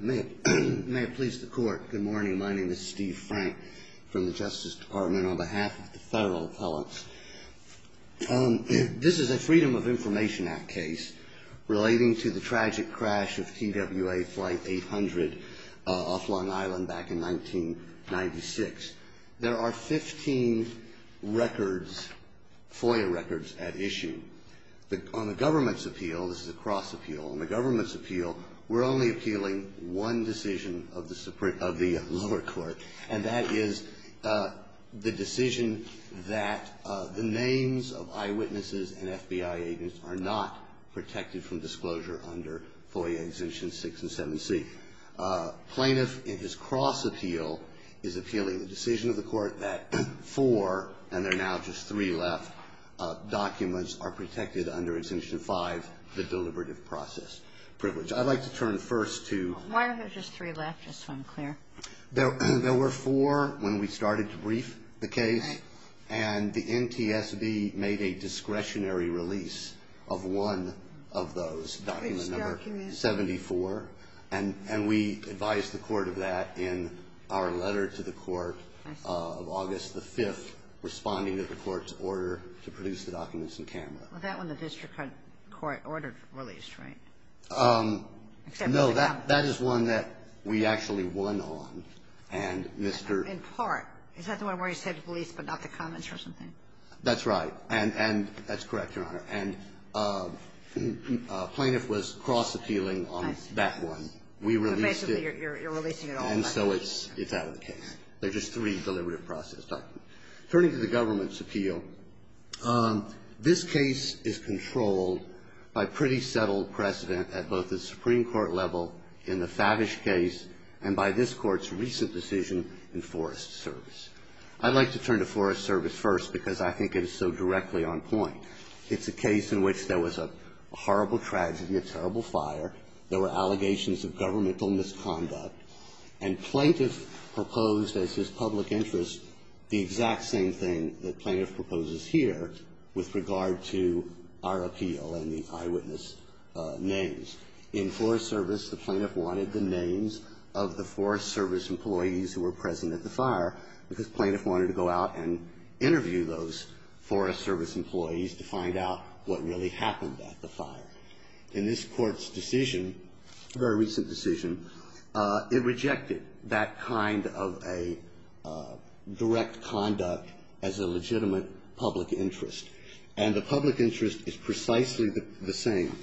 May it please the Court, good morning, my name is Steve Frank from the Justice Department on behalf of the Federal Appellants. This is a Freedom of Information Act case relating to the tragic crash of TWA Flight 800 off Long Island back in 1996. There are 15 records, FOIA records at issue. On the government's appeal, this is a cross appeal, on the government's appeal, we're only appealing one decision of the lower court. And that is the decision that the names of eyewitnesses and FBI agents are not protected from disclosure under FOIA Exemption 6 and 7C. Plaintiff, in his cross appeal, is appealing the decision of the court that four, and there are now just three left, documents are protected under Exemption 5, the deliberative process privilege. I'd like to turn first to... Why are there just three left, just so I'm clear? There were four when we started to brief the case, and the NTSB made a discretionary release of one of those, document number 74. And we advised the court of that in our letter to the court of August the 5th, responding to the court's order to produce the documents in Canada. Well, that one the district court ordered released, right? No, that is one that we actually won on, and Mr. In part. Is that the one where he said release but not the comments or something? And that's correct, Your Honor. And plaintiff was cross appealing on that one. We released it. But basically you're releasing it all. And so it's out of the case. There are just three deliberative process documents. Turning to the government's appeal, this case is controlled by pretty settled precedent at both the Supreme Court level in the Favish case and by this Court's recent decision in Forest Service. I'd like to turn to Forest Service first because I think it is so directly on point. It's a case in which there was a horrible tragedy, a terrible fire. There were allegations of governmental misconduct. And plaintiff proposed as his public interest the exact same thing that plaintiff proposes here with regard to our appeal and the eyewitness names. In Forest Service, the plaintiff wanted the names of the Forest Service employees who were present at the fire because plaintiff wanted to go out and interview those Forest Service employees to find out what really happened at the fire. In this Court's decision, a very recent decision, it rejected that kind of a direct conduct as a legitimate public interest. And the public interest is precisely the same.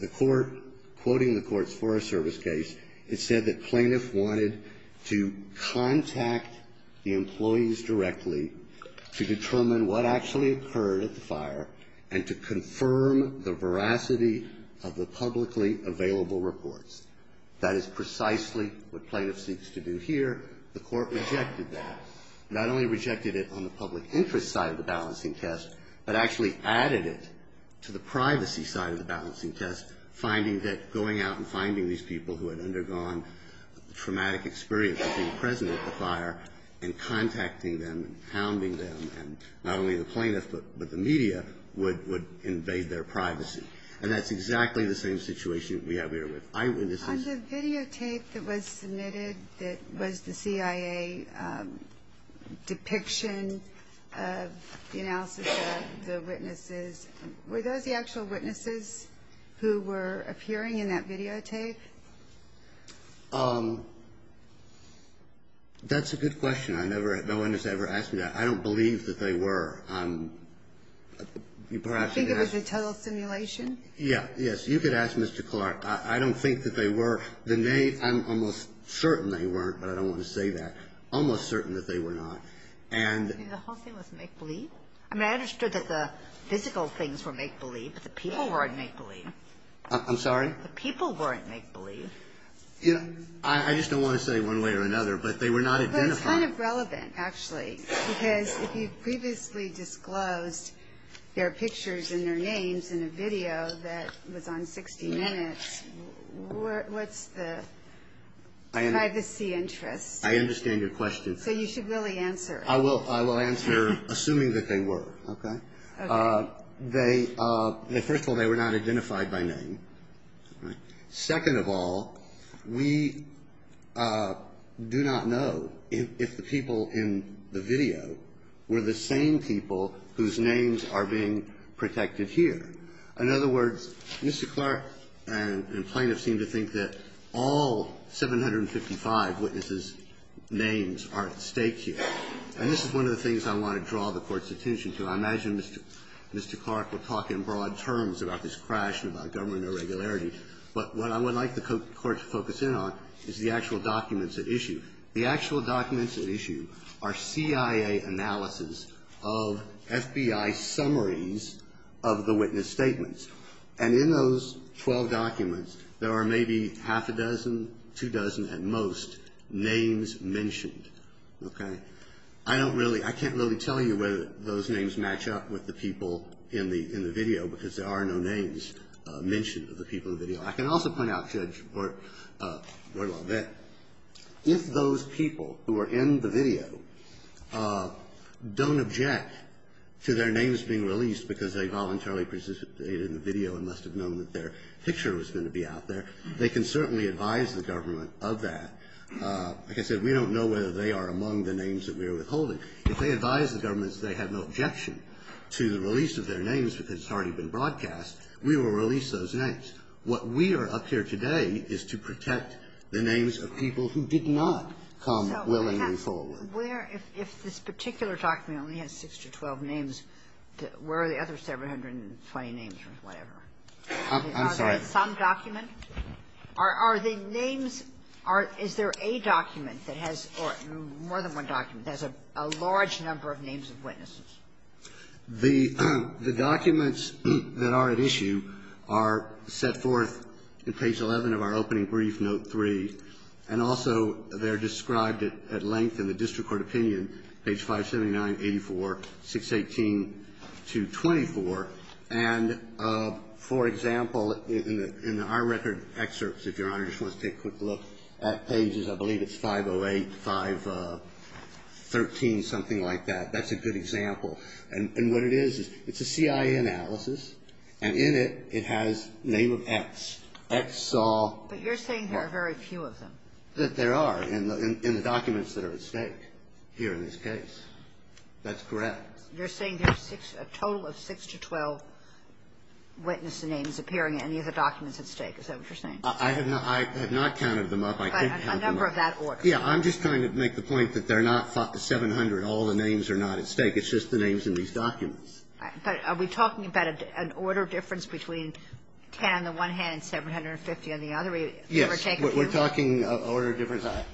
The Court, quoting the Court's Forest Service case, it said that plaintiff wanted to contact the employees directly to determine what actually occurred at the fire and to confirm the veracity of the publicly available reports. That is precisely what plaintiff seeks to do here. The Court rejected that. Not only rejected it on the public interest side of the balancing test, but actually added it to the privacy side of the balancing test, finding that going out and finding these people who had undergone traumatic experience of being present at the fire and contacting them and hounding them and not only the plaintiff but the media would invade their privacy. And that's exactly the same situation we have here with eyewitnesses. On the videotape that was submitted that was the CIA depiction of the analysis of the witnesses. Were those the actual witnesses who were appearing in that videotape? That's a good question. I never had no one has ever asked me that. I don't believe that they were. Perhaps you could ask. You think it was a total simulation? Yeah. Yes. You could ask Mr. Clark. I don't think that they were. I'm almost certain they weren't, but I don't want to say that. Almost certain that they were not. And the whole thing was make-believe? I mean, I understood that the physical things were make-believe, but the people weren't make-believe. I'm sorry? The people weren't make-believe. I just don't want to say one way or another, but they were not identified. But it's kind of relevant, actually, because if you previously disclosed their pictures and their names in a video that was on 60 Minutes, what's the privacy interest? I understand your question. So you should really answer it. I will answer assuming that they were. Okay? Okay. First of all, they were not identified by name. Second of all, we do not know if the people in the video were the same people whose names are being protected here. In other words, Mr. Clark and plaintiffs seem to think that all 755 witnesses' names are at stake here. And this is one of the things I want to draw the Court's attention to. I imagine Mr. Clark will talk in broad terms about this crash and about government irregularity. But what I would like the Court to focus in on is the actual documents at issue. The actual documents at issue are CIA analysis of FBI summaries of the witness statements. And in those 12 documents, there are maybe half a dozen, two dozen at most, names mentioned. Okay? I don't really ‑‑ I can't really tell you whether those names match up with the people in the video, because there are no names mentioned of the people in the video. I can also point out, Judge Brewer, if those people who are in the video don't object to their names being released because they voluntarily participated in the video and must have known that their picture was going to be out there, they can certainly advise the government of that. Like I said, we don't know whether they are among the names that we are withholding. If they advise the government that they have no objection to the release of their names because it's already been broadcast, we will release those names. What we are up here today is to protect the names of people who did not come willingly forward. Where ‑‑ if this particular document only has 6 to 12 names, where are the other 720 names or whatever? I'm sorry. Are they in some document? Are the names ‑‑ is there a document that has more than one document that has a large number of names of witnesses? The documents that are at issue are set forth in page 11 of our opening brief, note 3. And also they are described at length in the district court opinion, page 579, 84, 618 to 24. And, for example, in our record excerpts, if Your Honor just wants to take a quick look at pages, I believe it's 508, 513, something like that. That's a good example. And what it is, it's a CIA analysis, and in it, it has name of X. X saw ‑‑ But you're saying there are very few of them. That there are in the documents that are at stake here in this case. That's correct. You're saying there's a total of 6 to 12 witness names appearing in any of the documents at stake. Is that what you're saying? I have not counted them up. I can't count them up. But a number of that order. Yeah. I'm just trying to make the point that they're not 700, all the names are not at stake. It's just the names in these documents. But are we talking about an order difference between 10 on the one hand and 750 on the other? Yes. We're taking ‑‑ We're talking an order difference of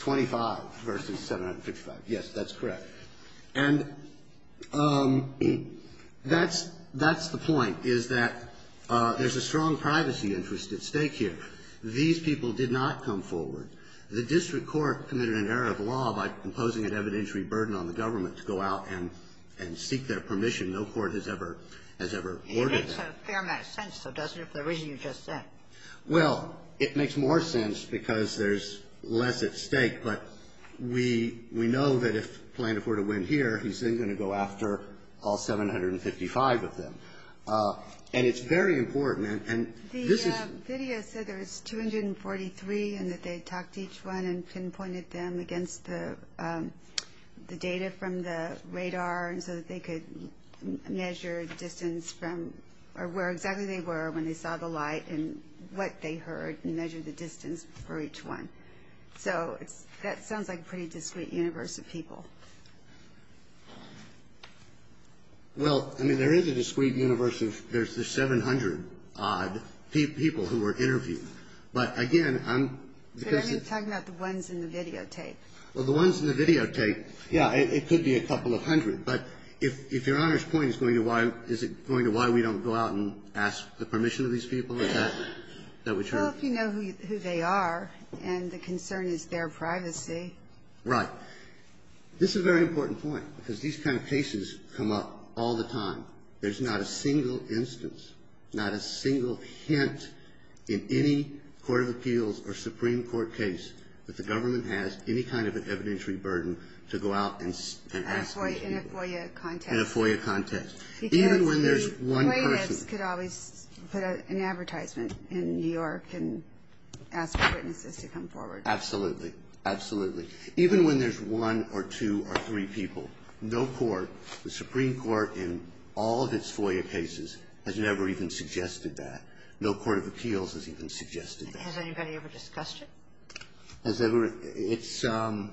25 versus 755. Yes, that's correct. And that's the point, is that there's a strong privacy interest at stake here. These people did not come forward. The district court committed an error of law by imposing an evidentiary burden on the government to go out and seek their permission. No court has ever ordered that. It makes a fair amount of sense, though, doesn't it, for the reason you just said? Well, it makes more sense because there's less at stake. But we know that if Planoff were to win here, he's then going to go after all 755 of them. And it's very important. And this is ‑‑ The video said there was 243 and that they talked to each one and pinpointed them against the data from the radar so that they could measure distance from or where exactly they were when they saw the light and what they heard and measure the distance for each one. So that sounds like a pretty discrete universe of people. Well, I mean, there is a discrete universe of ‑‑ there's the 700-odd people who were interviewed. But, again, I'm ‑‑ But I'm talking about the ones in the videotape. Well, the ones in the videotape, yeah, it could be a couple of hundred. But if Your Honor's point is going to why ‑‑ is it going to why we don't go out and ask the permission of these people at that ‑‑ Well, if you know who they are and the concern is their privacy. Right. This is a very important point because these kind of cases come up all the time. There's not a single instance, not a single hint in any court of appeals or Supreme Court case that the government has any kind of an evidentiary burden to go out and ask these people. In a FOIA contest. In a FOIA contest. Because the plaintiffs could always put an advertisement in New York and ask the witnesses to come forward. Absolutely, absolutely. Even when there's one or two or three people, no court, the Supreme Court in all of its FOIA cases, has never even suggested that. No court of appeals has even suggested that. Has anybody ever discussed it? Has ever? It's ‑‑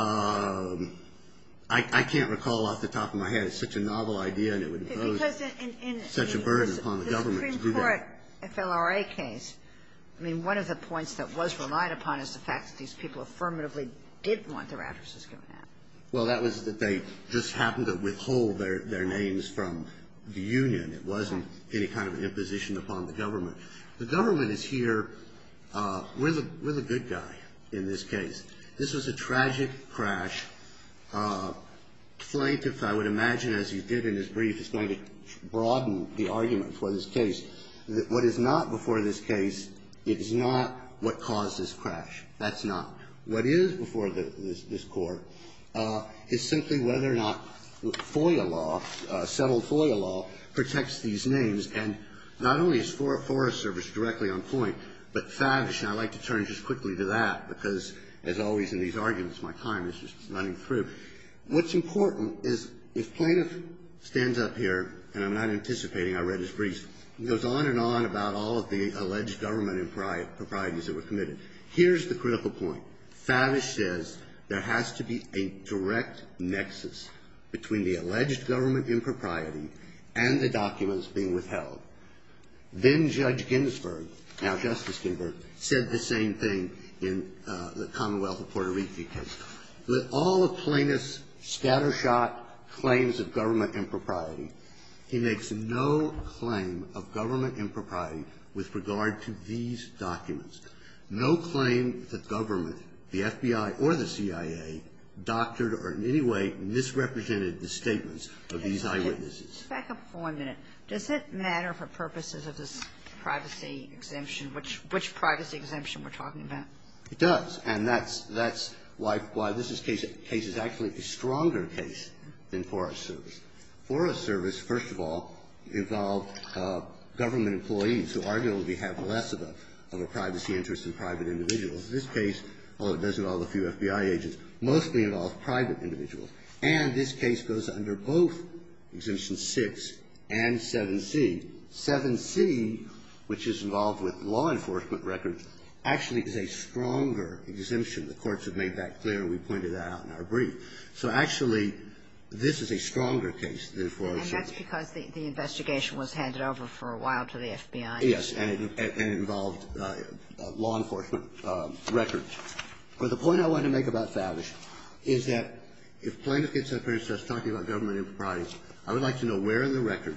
I can't recall off the top of my head. It's such a novel idea and it would impose such a burden upon the government to do that. The Supreme Court FLRA case, I mean, one of the points that was relied upon is the fact that these people affirmatively did want their addresses given out. Well, that was that they just happened to withhold their names from the union. It wasn't any kind of imposition upon the government. The government is here, we're the good guy in this case. This was a tragic crash. Plaintiff, I would imagine, as he did in his brief, is going to broaden the argument for this case. What is not before this case, it is not what caused this crash. That's not. What is before this court is simply whether or not FOIA law, settled FOIA law, protects these names. And not only is FOIA service directly on point, but Favish, and I'd like to turn just quickly to that, because as always in these arguments, my time is just running through. What's important is if plaintiff stands up here, and I'm not anticipating, I read his brief, goes on and on about all of the alleged government improprieties that were committed. Here's the critical point. Favish says there has to be a direct nexus between the alleged government impropriety and the documents being withheld. Then Judge Ginsburg, now Justice Ginsburg, said the same thing in the Commonwealth of Puerto Rico case. With all of plaintiff's scattershot claims of government impropriety, he makes no claim of government impropriety with regard to these documents. No claim that government, the FBI or the CIA, doctored or in any way misrepresented the statements of these eyewitnesses. Ginsburg. Back up for a minute. Does it matter for purposes of this privacy exemption, which privacy exemption we're talking about? It does. And that's why this case is actually a stronger case than FOIA service. FOIA service, first of all, involved government employees who arguably have less of a privacy interest than private individuals. This case, although it does involve a few FBI agents, mostly involved private individuals. And this case goes under both Exemption 6 and 7c. 7c, which is involved with law enforcement records, actually is a stronger exemption. The courts have made that clear. We pointed that out in our brief. So actually, this is a stronger case than FOIA service. And that's because the investigation was handed over for a while to the FBI. And it involved law enforcement records. But the point I want to make about Favre is that if plaintiff gets up here and starts talking about government impropriety, I would like to know where in the record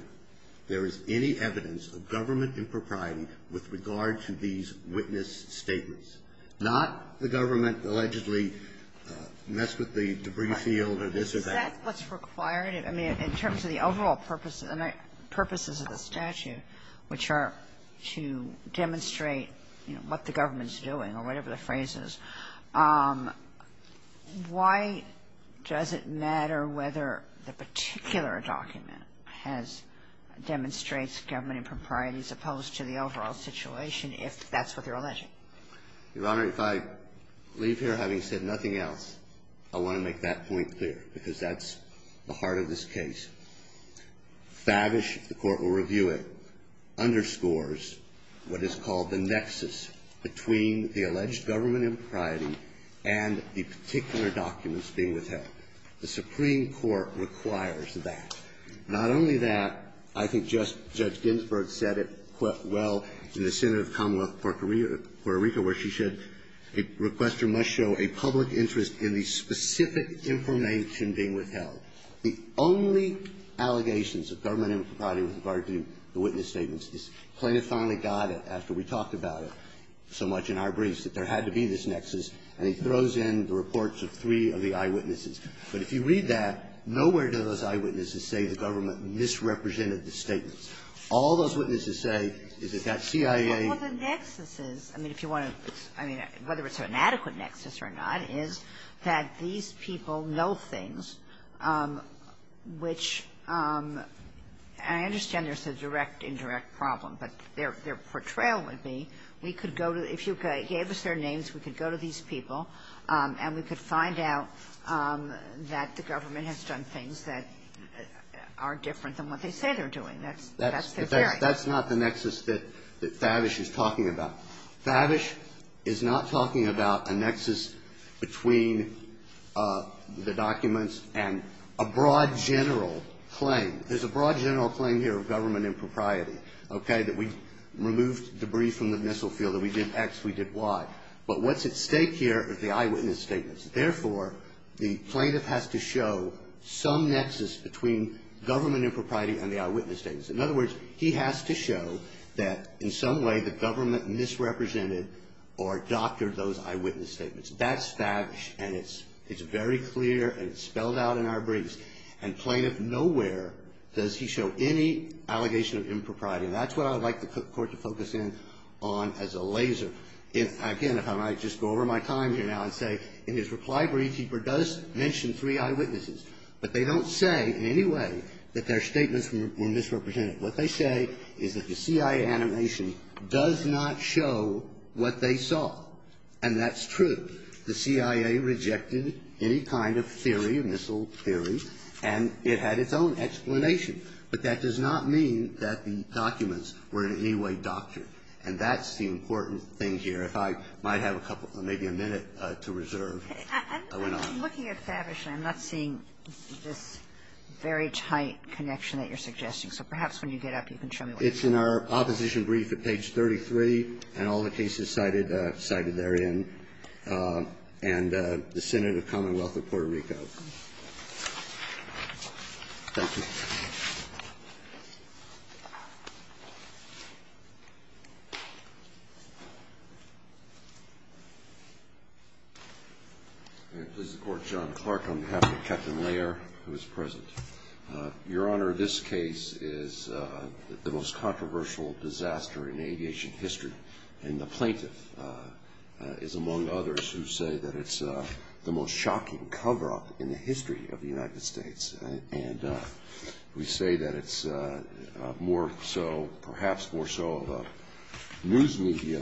there is any evidence of government impropriety with regard to these witness statements, not the government allegedly messed with the debris field or this or that. Is that what's required? I mean, in terms of the overall purposes of the statute, which are to demonstrate what the government is doing or whatever the phrase is, why does it matter whether the particular document has or demonstrates government impropriety as opposed to the overall situation if that's what you're alleging? Your Honor, if I leave here having said nothing else, I want to make that point clear because that's the heart of this case. Favre, if the Court will review it, underscores what is called the nexus between the alleged government impropriety and the particular documents being withheld. The Supreme Court requires that. Not only that, I think Judge Ginsburg said it quite well in the Senate of Commonwealth of Puerto Rico where she said a requester must show a public interest in the specific information being withheld. The only allegations of government impropriety with regard to the witness statements is Plaintiff finally got it after we talked about it so much in our briefs, that there had to be this nexus, and he throws in the reports of three of the eyewitnesses. But if you read that, nowhere do those eyewitnesses say the government misrepresented the statements. All those witnesses say is that that CIA ---- Well, the nexuses, I mean, if you want to ---- I mean, whether it's an adequate nexus or not, is that these people know things which ---- and I understand there's a direct, indirect problem, but their portrayal would be we could go to ---- if you gave us their names, we could go to these people, and we could find out that the government has done things that are different than what they say they're doing. That's their theory. Now, Babish is not talking about a nexus between the documents and a broad general claim. There's a broad general claim here of government impropriety, okay, that we removed debris from the missile field, that we did X, we did Y. But what's at stake here is the eyewitness statements. Therefore, the plaintiff has to show some nexus between government impropriety and the eyewitness statements. In other words, he has to show that in some way the government misrepresented or doctored those eyewitness statements. That's Babish, and it's very clear, and it's spelled out in our briefs. And plaintiff nowhere does he show any allegation of impropriety, and that's what I would like the Court to focus in on as a laser. Again, if I might just go over my time here now and say, in his reply brief, he does mention three eyewitnesses, but they don't say in any way that their statements were misrepresented. What they say is that the CIA animation does not show what they saw, and that's true. The CIA rejected any kind of theory, missile theory, and it had its own explanation. But that does not mean that the documents were in any way doctored, and that's the important thing here. If I might have a couple, maybe a minute to reserve. I went on. I'm looking at Babish, and I'm not seeing this very tight connection that you're suggesting. So perhaps when you get up, you can show me what you're saying. It's in our opposition brief at page 33, and all the cases cited therein, and the Senate of Commonwealth of Puerto Rico. Thank you. This is the Court. John Clark on behalf of Captain Layer, who is present. Your Honor, this case is the most controversial disaster in aviation history, and the plaintiff is among others who say that it's the most shocking cover-up in the history of the United States. And we say that it's more so, perhaps more so of a news media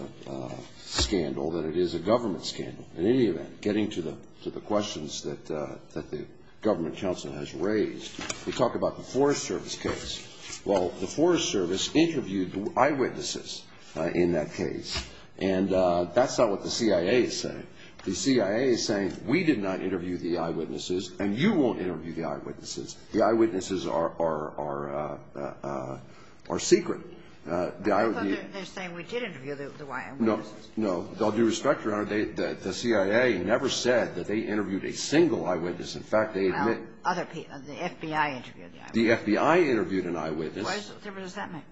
scandal than it is a government scandal. In any event, getting to the questions that the government counsel has raised, we talk about the Forest Service case. Well, the Forest Service interviewed the eyewitnesses in that case, and that's not what the eyewitnesses are. The eyewitnesses are secret. They're saying we did interview the eyewitnesses. No. No. With all due respect, Your Honor, the CIA never said that they interviewed a single eyewitness. In fact, they admit the FBI interviewed an eyewitness. Why does that make sense?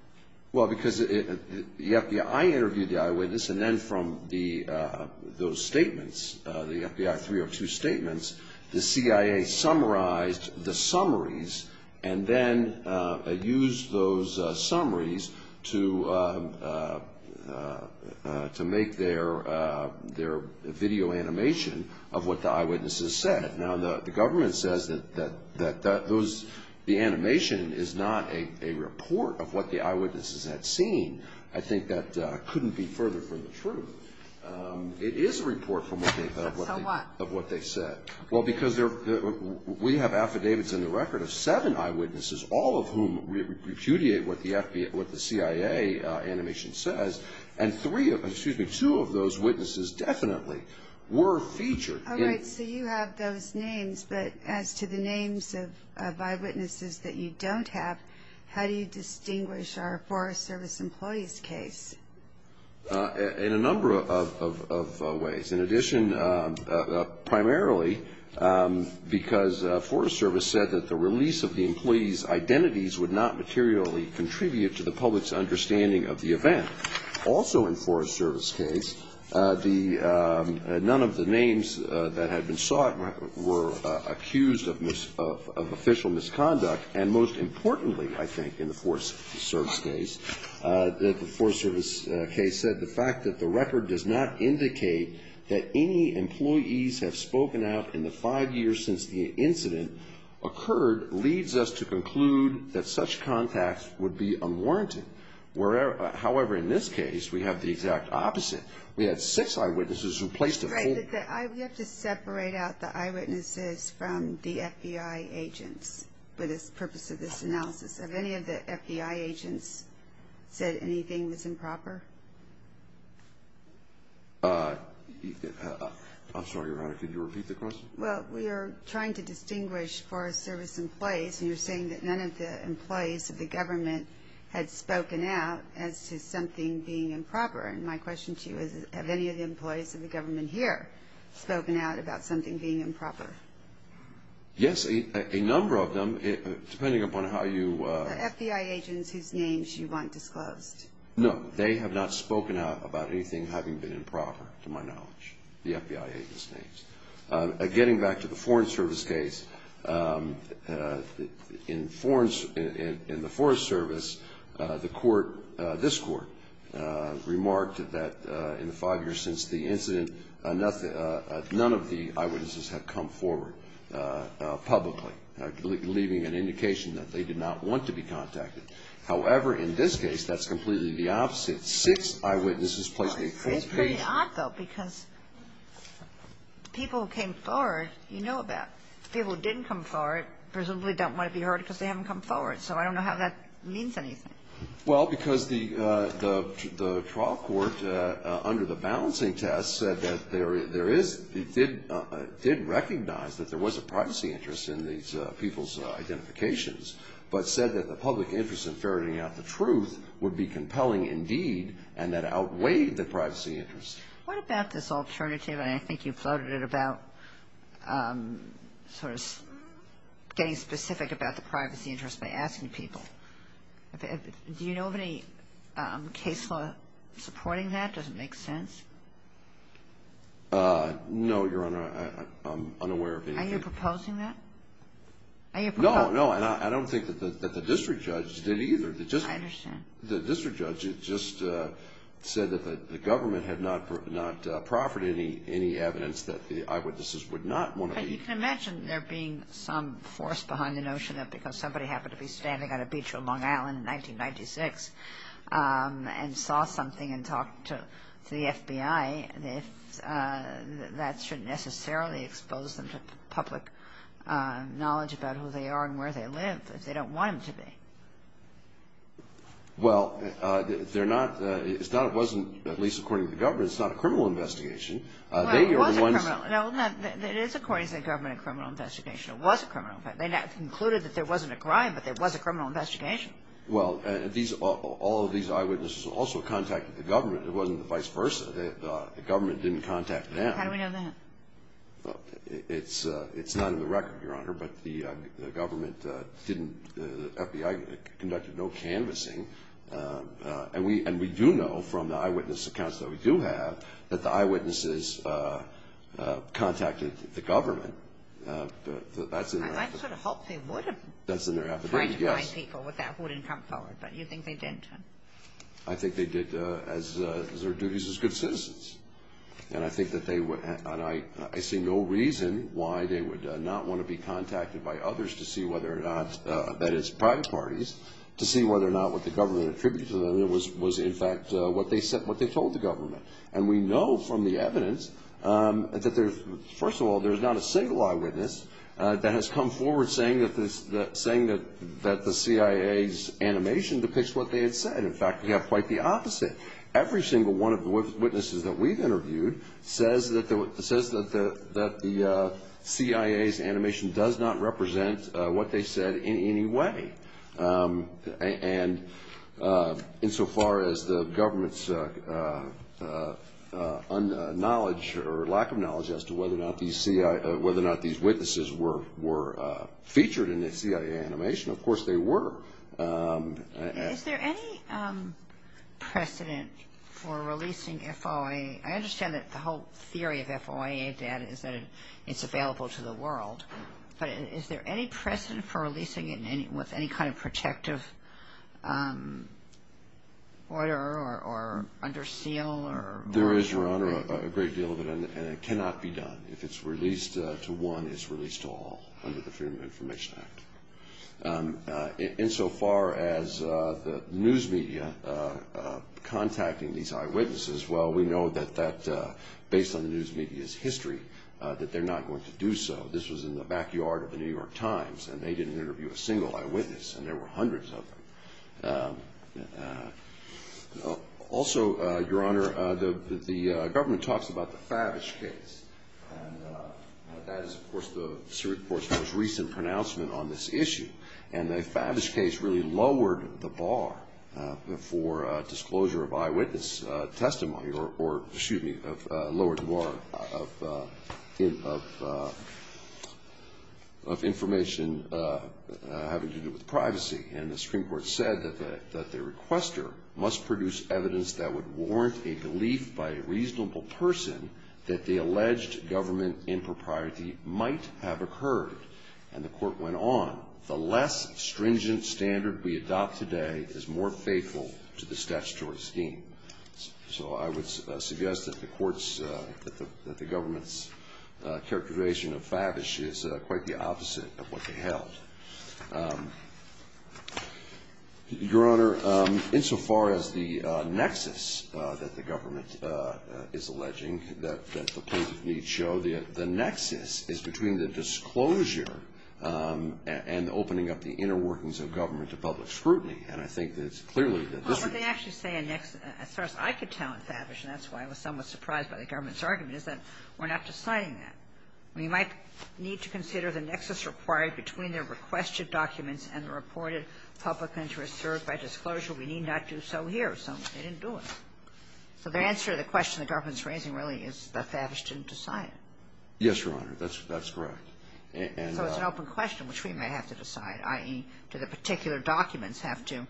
Well, because the FBI interviewed the eyewitness, and then from those statements, the FBI 302 statements, the CIA summarized the summaries and then used those summaries to make their video animation of what the eyewitnesses said. Now, the government says that the animation is not a report of what the eyewitnesses had seen. I think that couldn't be further from the truth. It is a report of what they said. Well, because we have affidavits in the record of seven eyewitnesses, all of whom repudiate what the CIA animation says, and two of those witnesses definitely were featured. All right. So you have those names, but as to the names of eyewitnesses that you don't have, how do you distinguish our Forest Service employees case? In a number of ways. In addition, primarily because Forest Service said that the release of the employees' identities would not materially contribute to the public's understanding of the event. Also in Forest Service case, none of the names that had been sought were accused of official misconduct, and most that the record does not indicate that any employees have spoken out in the five years since the incident occurred leads us to conclude that such contacts would be unwarranted. However, in this case, we have the exact opposite. We had six eyewitnesses who placed a hold. Right. But we have to separate out the eyewitnesses from the FBI agents for the reason that the FBI agents said anything was improper? I'm sorry, Your Honor. Could you repeat the question? Well, we are trying to distinguish Forest Service employees, and you're saying that none of the employees of the government had spoken out as to something being improper. And my question to you is, have any of the employees of the government here spoken out about something being improper? Yes, a number of them, depending upon how you ---- The FBI agents whose names you want disclosed? No, they have not spoken out about anything having been improper, to my knowledge, the FBI agents' names. Getting back to the Foreign Service case, in the Forest Service, the court, this court, remarked that in the five years since the incident, none of the eyewitnesses had come forward publicly, leaving an indication that they did not want to be contacted. However, in this case, that's completely the opposite. Six eyewitnesses placed a false case. It's pretty odd, though, because the people who came forward, you know about. The people who didn't come forward presumably don't want to be heard because they haven't come forward. So I don't know how that means anything. Well, because the trial court, under the balancing test, said that there is did recognize that there was a privacy interest in these people's identifications, but said that the public interest in ferreting out the truth would be compelling indeed, and that outweighed the privacy interest. What about this alternative, and I think you floated it about sort of getting specific about the privacy interest by asking people. Do you know of any case law supporting that? Does it make sense? No, Your Honor, I'm unaware of anything. Are you proposing that? No, no, and I don't think that the district judge did either. I understand. The district judge just said that the government had not proffered any evidence that the eyewitnesses would not want to be. But you can imagine there being some force behind the notion that because somebody happened to be standing on a beach on Long Island in 1996 and saw something and talked to the FBI, that that shouldn't necessarily expose them to public knowledge about who they are and where they live if they don't want them to be. Well, they're not, it's not, it wasn't, at least according to the government, it's not a criminal investigation. Well, it was a criminal. No, it is according to the government a criminal investigation. It was a criminal investigation. They concluded that there wasn't a crime, but there was a criminal investigation. Well, all of these eyewitnesses also contacted the government. It wasn't the vice versa. The government didn't contact them. How do we know that? It's not in the record, Your Honor, but the government didn't, the FBI conducted no canvassing. And we do know from the eyewitness accounts that we do have that the eyewitnesses contacted the government. I sort of hoped they would have. That's in their affidavit. Right-wing people with that wouldn't come forward, but you think they didn't? I think they did as their duties as good citizens. And I think that they would, and I see no reason why they would not want to be contacted by others to see whether or not, that is private parties, to see whether or not what the government attributed to them was, in fact, what they said, what they told the government. And we know from the evidence that there's, first of all, there's not a single eyewitness that has come forward saying that the CIA's animation depicts what they had said. In fact, we have quite the opposite. Every single one of the witnesses that we've interviewed says that the CIA's animation does not represent what they said in any way. And insofar as the government's knowledge or lack of knowledge as to whether or not these witnesses were featured in the CIA animation, of course they were. Is there any precedent for releasing FOIA? I understand that the whole theory of FOIA data is that it's available to the world, but is there any precedent for releasing it with any kind of protective order or under seal? There is, Your Honor, a great deal of it, and it cannot be done. If it's released to one, it's released to all under the Freedom of Information Act. Insofar as the news media contacting these eyewitnesses, well, we know that based on the news media's history that they're not going to do so. This was in the backyard of the New York Times, and they didn't interview a single eyewitness, and there were hundreds of them. Also, Your Honor, the government talks about the Favich case, and that is, of course, the Supreme Court's most recent pronouncement on this issue. And the Favich case really lowered the bar for disclosure of eyewitness testimony or, excuse me, lowered the bar of information having to do with privacy. And the Supreme Court said that the requester must produce evidence that would warrant a belief by a reasonable person that the alleged government impropriety might have occurred. And the Court went on, the less stringent standard we adopt today is more faithful to the statutory scheme. So I would suggest that the government's characterization of Favich is quite the Your Honor, insofar as the nexus that the government is alleging that the plaintiff needs show, the nexus is between the disclosure and opening up the inner workings of government to public scrutiny. And I think that it's clearly that this is the case. Well, what they actually say in nexus, as far as I could tell in Favich, and that's why I was somewhat surprised by the government's argument, is that we're not deciding that. We might need to consider the nexus required between the requested documents and the reported public interest served by disclosure. We need not do so here. So they didn't do it. So the answer to the question the government's raising really is that Favich didn't decide. Yes, Your Honor. That's correct. So it's an open question, which we may have to decide, i.e., do the particular documents have to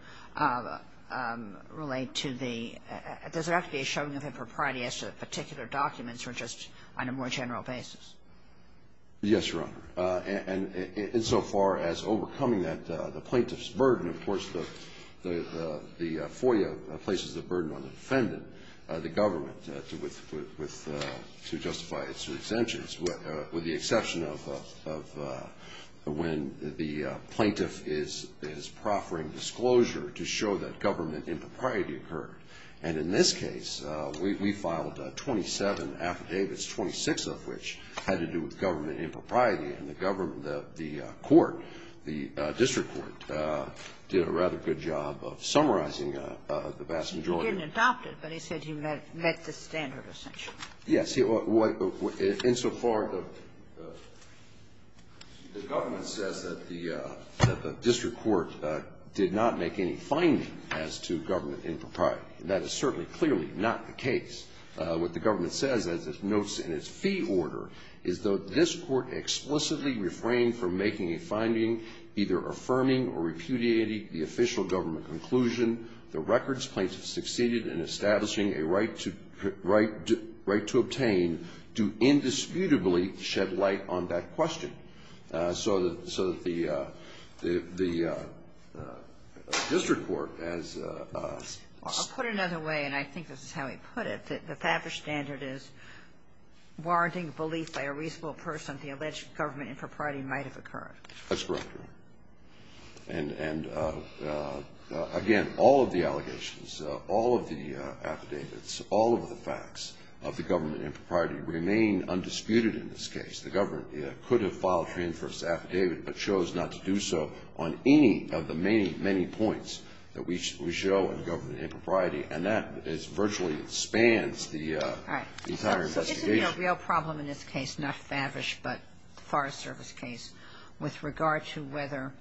relate to the — does it have to be a showing of impropriety as to the particular documents or just on a more general basis? Yes, Your Honor. And insofar as overcoming the plaintiff's burden, of course, the FOIA places the burden on the defendant, the government, to justify its exemptions, with the exception of when the plaintiff is proffering disclosure to show that government impropriety occurred. And in this case, we filed 27 affidavits, 26 of which had to do with government impropriety. And the court, the district court, did a rather good job of summarizing the vast majority. He didn't adopt it, but he said he met the standard, essentially. Yes. Insofar as the government says that the district court did not make any finding as to government impropriety. That is certainly clearly not the case. What the government says, as it notes in its fee order, is that this court explicitly refrained from making a finding, either affirming or repudiating the official government conclusion. The records plaintiff succeeded in establishing a right to — right to obtain do indisputably shed light on that question. So that the district court, as — The Favre standard is warranting belief by a reasonable person the alleged government impropriety might have occurred. That's correct. And, again, all of the allegations, all of the affidavits, all of the facts of the government impropriety remain undisputed in this case. The government could have filed a reinforced affidavit but chose not to do so on any of the many, many points that we show in government impropriety. And that virtually spans the entire investigation. All right. So this would be a real problem in this case, not Favre, but the Forest Service case, with regard to whether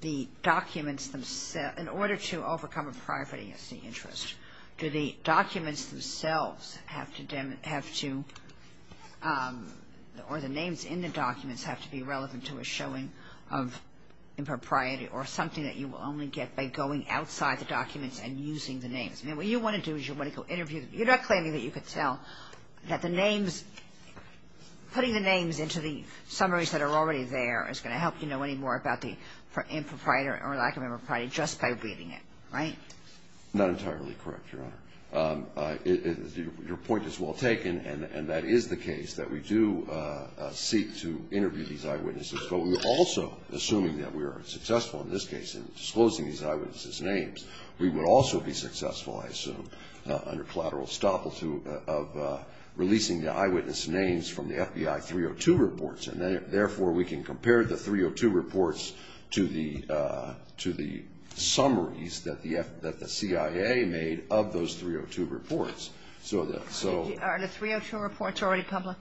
the documents themselves — in order to overcome impropriety as the interest, do the documents themselves have to — or the names in the documents have to be relevant to a showing of impropriety or something that you will only get by going outside the documents and using the names. I mean, what you want to do is you want to go interview — you're not claiming that you could tell that the names — putting the names into the summaries that are already there is going to help you know any more about the impropriety or lack of impropriety just by reading it, right? Not entirely correct, Your Honor. Your point is well taken, and that is the case, that we do seek to interview these eyewitnesses. But we're also assuming that we are successful in this case in disclosing these eyewitnesses' names. We would also be successful, I assume, under collateral estoppel of releasing the eyewitness names from the FBI 302 reports. And therefore, we can compare the 302 reports to the summaries that the CIA made of those 302 reports. Are the 302 reports already public?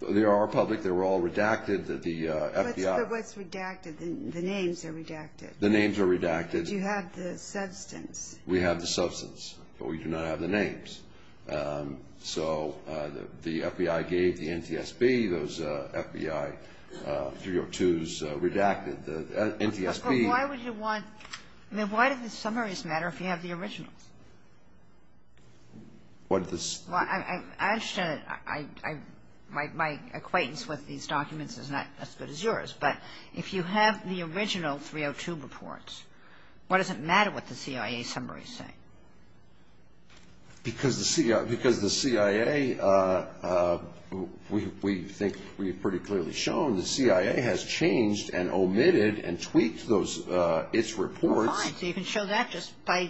They are public. They were all redacted. The FBI — What's redacted? The names are redacted. The names are redacted. But you have the substance. We have the substance, but we do not have the names. So the FBI gave the NTSB those FBI 302s redacted. The NTSB — But why would you want — I mean, why do the summaries matter if you have the originals? What the — Well, I understand my acquaintance with these documents is not as good as yours. But if you have the original 302 reports, why does it matter what the CIA summaries say? Because the CIA — we think we've pretty clearly shown the CIA has changed and omitted and tweaked its reports. Fine. So you can show that just by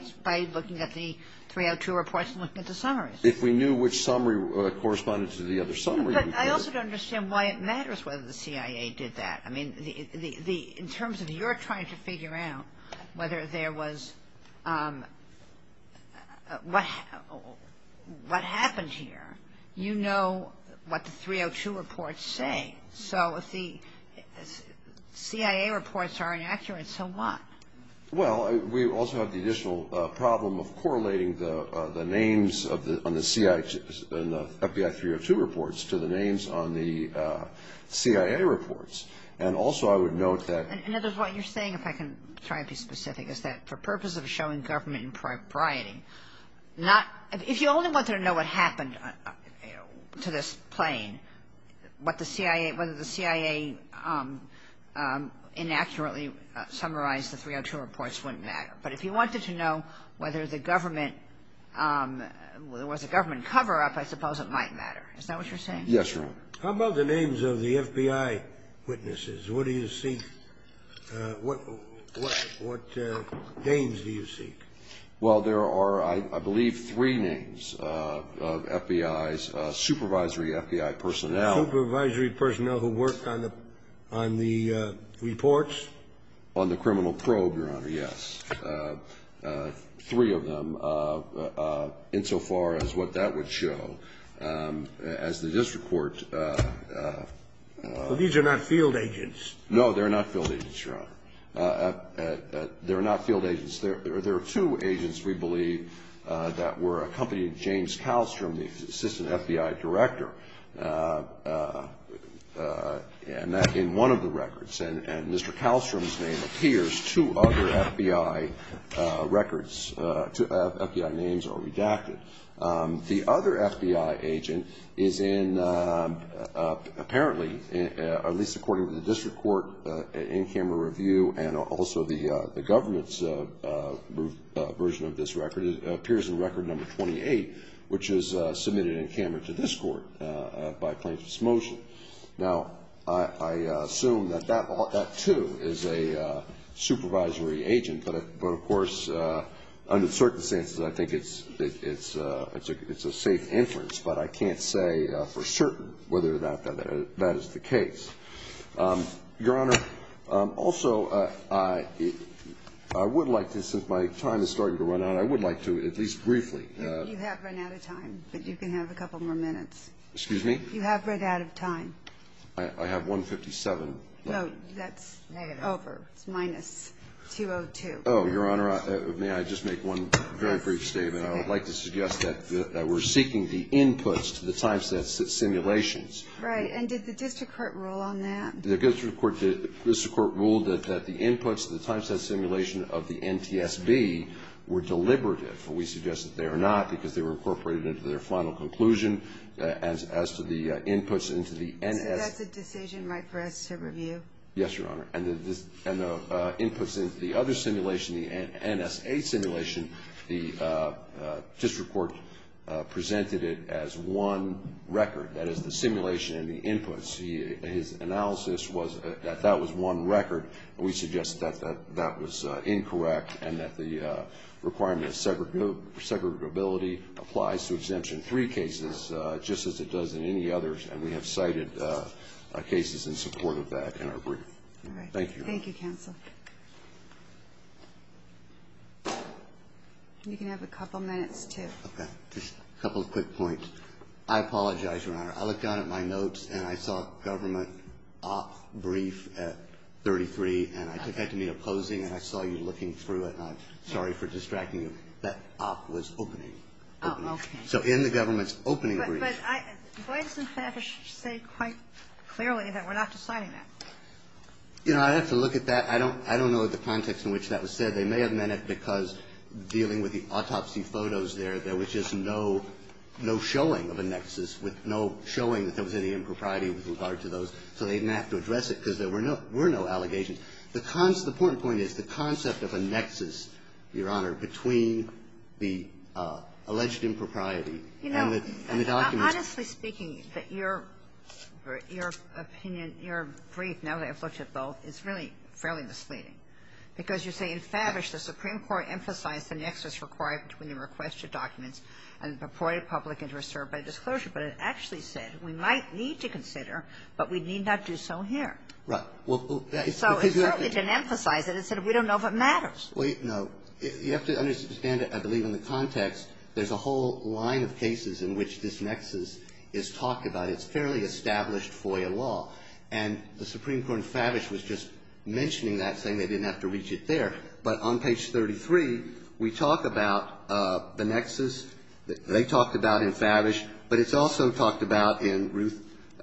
looking at the 302 reports and looking at the summaries. If we knew which summary corresponded to the other summary, we could. But I also don't understand why it matters whether the CIA did that. I mean, in terms of your trying to figure out whether there was — what happened here, you know what the 302 reports say. So if the CIA reports are inaccurate, so what? Well, we also have the additional problem of correlating the names on the FBI 302 reports to the names on the CIA reports. And also I would note that — And that is what you're saying, if I can try to be specific, is that for purposes of showing government impropriety, not — if you only wanted to know what happened to this plane, what the CIA — wouldn't matter. But if you wanted to know whether the government — whether there was a government cover-up, I suppose it might matter. Is that what you're saying? Yes, Your Honor. How about the names of the FBI witnesses? What do you seek? What names do you seek? Well, there are, I believe, three names of FBI's supervisory FBI personnel. Supervisory personnel who worked on the reports? On the criminal probe, Your Honor, yes. Three of them, insofar as what that would show. As the district court — But these are not field agents. No, they're not field agents, Your Honor. They're not field agents. There are two agents, we believe, that were accompanied — James Kallstrom, the assistant FBI director. And that's in one of the records. And Mr. Kallstrom's name appears. Two other FBI records — two FBI names are redacted. The other FBI agent is in — apparently, at least according to the district court in-camera review, and also the government's version of this record, appears in record number 28, which was submitted in-camera to this court by plaintiff's motion. Now, I assume that that, too, is a supervisory agent. But, of course, under circumstances, I think it's a safe inference. But I can't say for certain whether that is the case. Your Honor, also, I would like to, since my time is starting to run out, I would like to, at least briefly — You have run out of time. But you can have a couple more minutes. Excuse me? You have run out of time. I have 1.57. Oh, that's over. It's minus 2.02. Oh, Your Honor, may I just make one very brief statement? I would like to suggest that we're seeking the inputs to the time-set simulations. Right. And did the district court rule on that? The district court ruled that the inputs to the time-set simulation of the NTSB were deliberative. We suggest that they are not because they were incorporated into their final conclusion as to the inputs into the NSA. So that's a decision right for us to review? Yes, Your Honor. And the inputs into the other simulation, the NSA simulation, the district court presented it as one record. That is, the simulation and the inputs. His analysis was that that was one record. We suggest that that was incorrect and that the requirement of segregability applies to Exemption 3 cases just as it does in any others. And we have cited cases in support of that in our brief. All right. Thank you, Your Honor. Thank you, counsel. You can have a couple minutes, too. Okay. Just a couple of quick points. I apologize, Your Honor. I looked down at my notes, and I saw government op brief at 33. And I took that to mean opposing, and I saw you looking through it. And I'm sorry for distracting you. That op was opening. Oh, okay. So in the government's opening brief. But I do I have to say quite clearly that we're not deciding that? You know, I'd have to look at that. I don't know the context in which that was said. They may have meant it because dealing with the autopsy photos there, there was just no showing of a nexus with no showing that there was any impropriety with regard to those, so they didn't have to address it because there were no allegations. The important point is the concept of a nexus, Your Honor, between the alleged impropriety and the documents. You know, honestly speaking, your opinion, your brief, now that I've looked at both, is really fairly misleading. Because you say in Favish the Supreme Court emphasized the nexus required between the requested documents and the reported public interest served by disclosure. But it actually said we might need to consider, but we need not do so here. Well, that is because you have to do it. So it certainly didn't emphasize it. It said we don't know if it matters. Well, no. You have to understand, I believe, in the context, there's a whole line of cases in which this nexus is talked about. It's fairly established FOIA law. And the Supreme Court in Favish was just mentioning that, saying they didn't have to reach it there. But on page 33, we talk about the nexus that they talked about in Favish, but it's also talked about in Ruth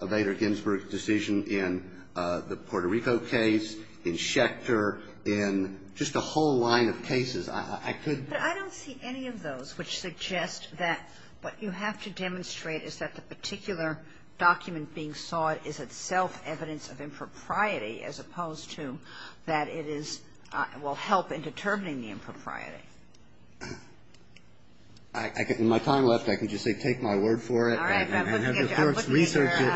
Bader Ginsburg's decision in the Puerto Rico case, in Schechter, in just a whole line of cases. I could be wrong. But I don't see any of those which suggest that what you have to demonstrate is that the particular document being sought is itself evidence of impropriety as opposed to that it is or will help in determining the impropriety. In my time left, I can just say take my word for it and have your clerks research it.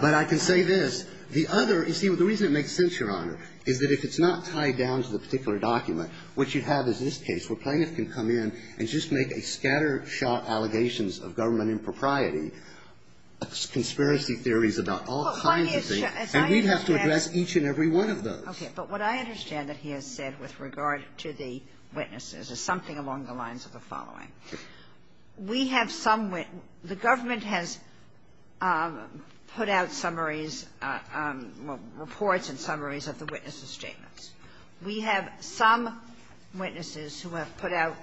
But I can say this. The other – you see, the reason it makes sense, Your Honor, is that if it's not tied down to the particular document, what you'd have is this case where plaintiff can come in and just make a scattershot allegations of government impropriety, conspiracy theories about all kinds of things. And we'd have to address each and every one of those. Okay. But what I understand that he has said with regard to the witnesses is something along the lines of the following. We have some – the government has put out summaries, reports and summaries of the witnesses' statements. We have some witnesses who have put out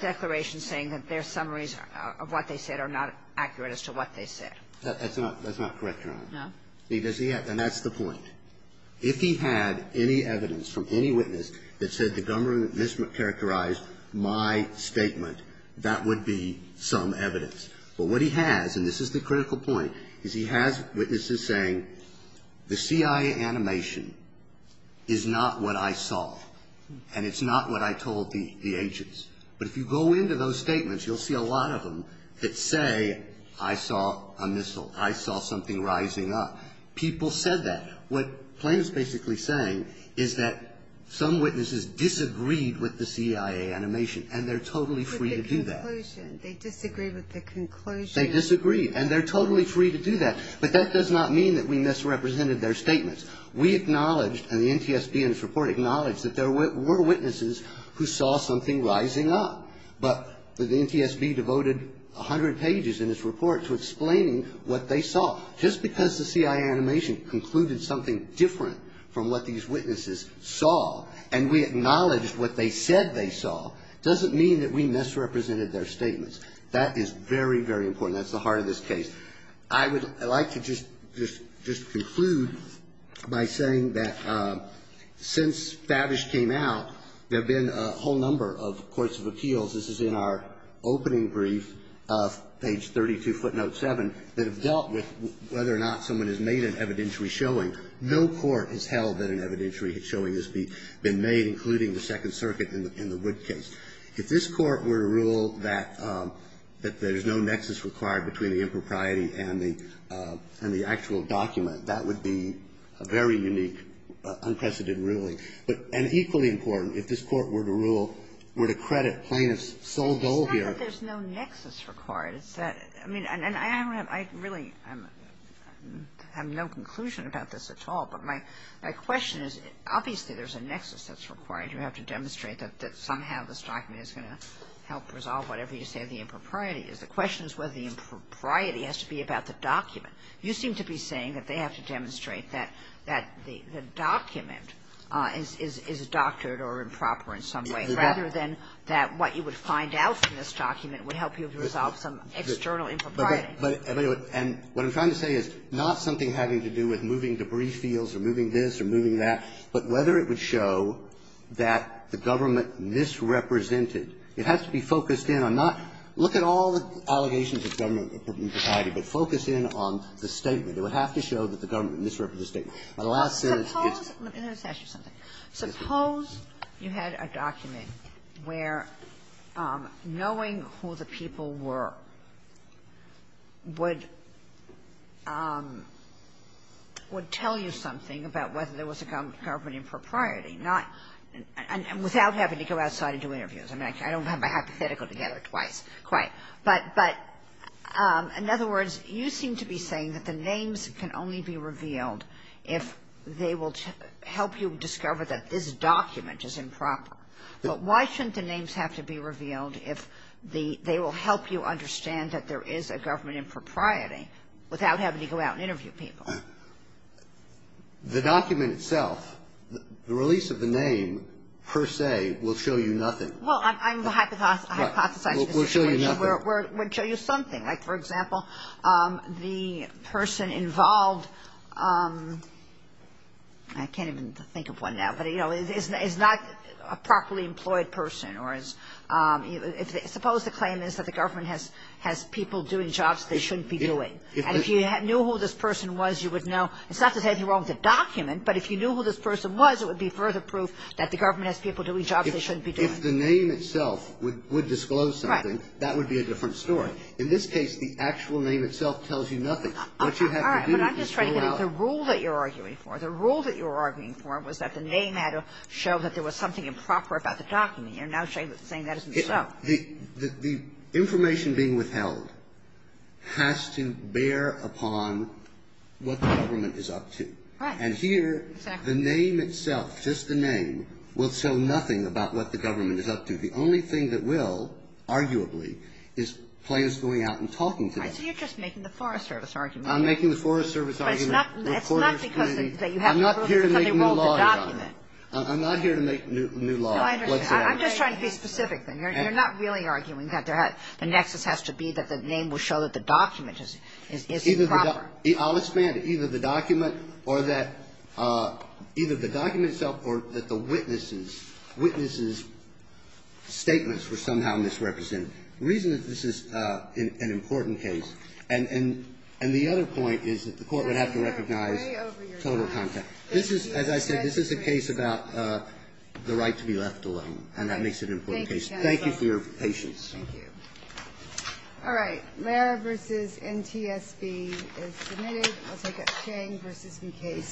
declarations saying that their summaries of what they said are not accurate as to what they said. That's not – that's not correct, Your Honor. No? Because he has – and that's the point. If he had any evidence from any witness that said the government mischaracterized my statement, that would be some evidence. But what he has, and this is the critical point, is he has witnesses saying the CIA animation is not what I saw and it's not what I told the agents. But if you go into those statements, you'll see a lot of them that say I saw a missile, I saw something rising up. People said that. What Plaintiff's basically saying is that some witnesses disagreed with the CIA animation and they're totally free to do that. But the conclusion, they disagreed with the conclusion. They disagreed and they're totally free to do that. But that does not mean that we misrepresented their statements. We acknowledged, and the NTSB in its report acknowledged, that there were witnesses who saw something rising up. But the NTSB devoted 100 pages in its report to explaining what they saw. Just because the CIA animation concluded something different from what these witnesses saw and we acknowledged what they said they saw doesn't mean that we misrepresented their statements. That is very, very important. That's the heart of this case. I would like to just conclude by saying that since Favish came out, there have been a whole number of courts of appeals, this is in our opening brief, page 32, footnote 7, that have dealt with whether or not someone has made an evidentiary showing. No court has held that an evidentiary showing has been made, including the Second Circuit in the Wood case. If this Court were to rule that there's no nexus required between the impropriety and the actual document, that would be a very unique, unprecedented ruling. And equally important, if this Court were to rule, were to credit plaintiff's sole goal here. It's not that there's no nexus required. I mean, and I really have no conclusion about this at all. But my question is, obviously, there's a nexus that's required. You have to demonstrate that somehow this document is going to help resolve whatever you say the impropriety is. The question is whether the impropriety has to be about the document. You seem to be saying that they have to demonstrate that the document is doctored or improper in some way, rather than that what you would find out from this document would help you resolve some external impropriety. And what I'm trying to say is not something having to do with moving debris fields or moving this or moving that, but whether it would show that the government misrepresented. It has to be focused in on not look at all the allegations of government impropriety, but focus in on the statement. It would have to show that the government misrepresented the statement. The last sentence is the same. where knowing who the people were would tell you something about whether there was a government impropriety, and without having to go outside and do interviews. I mean, I don't have my hypothetical together twice quite. But, in other words, you seem to be saying that the names can only be revealed if they will help you discover that this document is improper. But why shouldn't the names have to be revealed if the they will help you understand that there is a government impropriety without having to go out and interview people? The document itself, the release of the name, per se, will show you nothing. Well, I'm hypothesizing. It will show you nothing. It would show you something. Like, for example, the person involved, I can't even think of one now, but, you know, is not a properly employed person. Suppose the claim is that the government has people doing jobs they shouldn't be doing. And if you knew who this person was, you would know. It's not to say that you're wrong with the document, but if you knew who this person was, it would be further proof that the government has people doing jobs they shouldn't be doing. If the name itself would disclose something, that would be a different story. In this case, the actual name itself tells you nothing. What you have to do is figure it out. All right, but I'm just trying to get at the rule that you're arguing for. The rule that you're arguing for was that the name had to show that there was something improper about the document. You're now saying that isn't so. The information being withheld has to bear upon what the government is up to. Right. And here, the name itself, just the name, will show nothing about what the government is up to. The only thing that will, arguably, is plaintiffs going out and talking to the government. Right, so you're just making the Forest Service argument. I'm making the Forest Service argument. I'm not here to make new law, Your Honor. I'm not here to make new law. No, I understand. I'm just trying to be specific. You're not really arguing that the nexus has to be that the name will show that the document is improper. I'll expand it. Either the document or that the witnesses' statements were somehow misrepresented. The reason that this is an important case. And the other point is that the court would have to recognize total content. This is, as I said, this is a case about the right to be left alone. And that makes it an important case. Thank you for your patience. Thank you. All right. Lara v. NTSB is submitted. I'll take it. Chang v. Mukasey.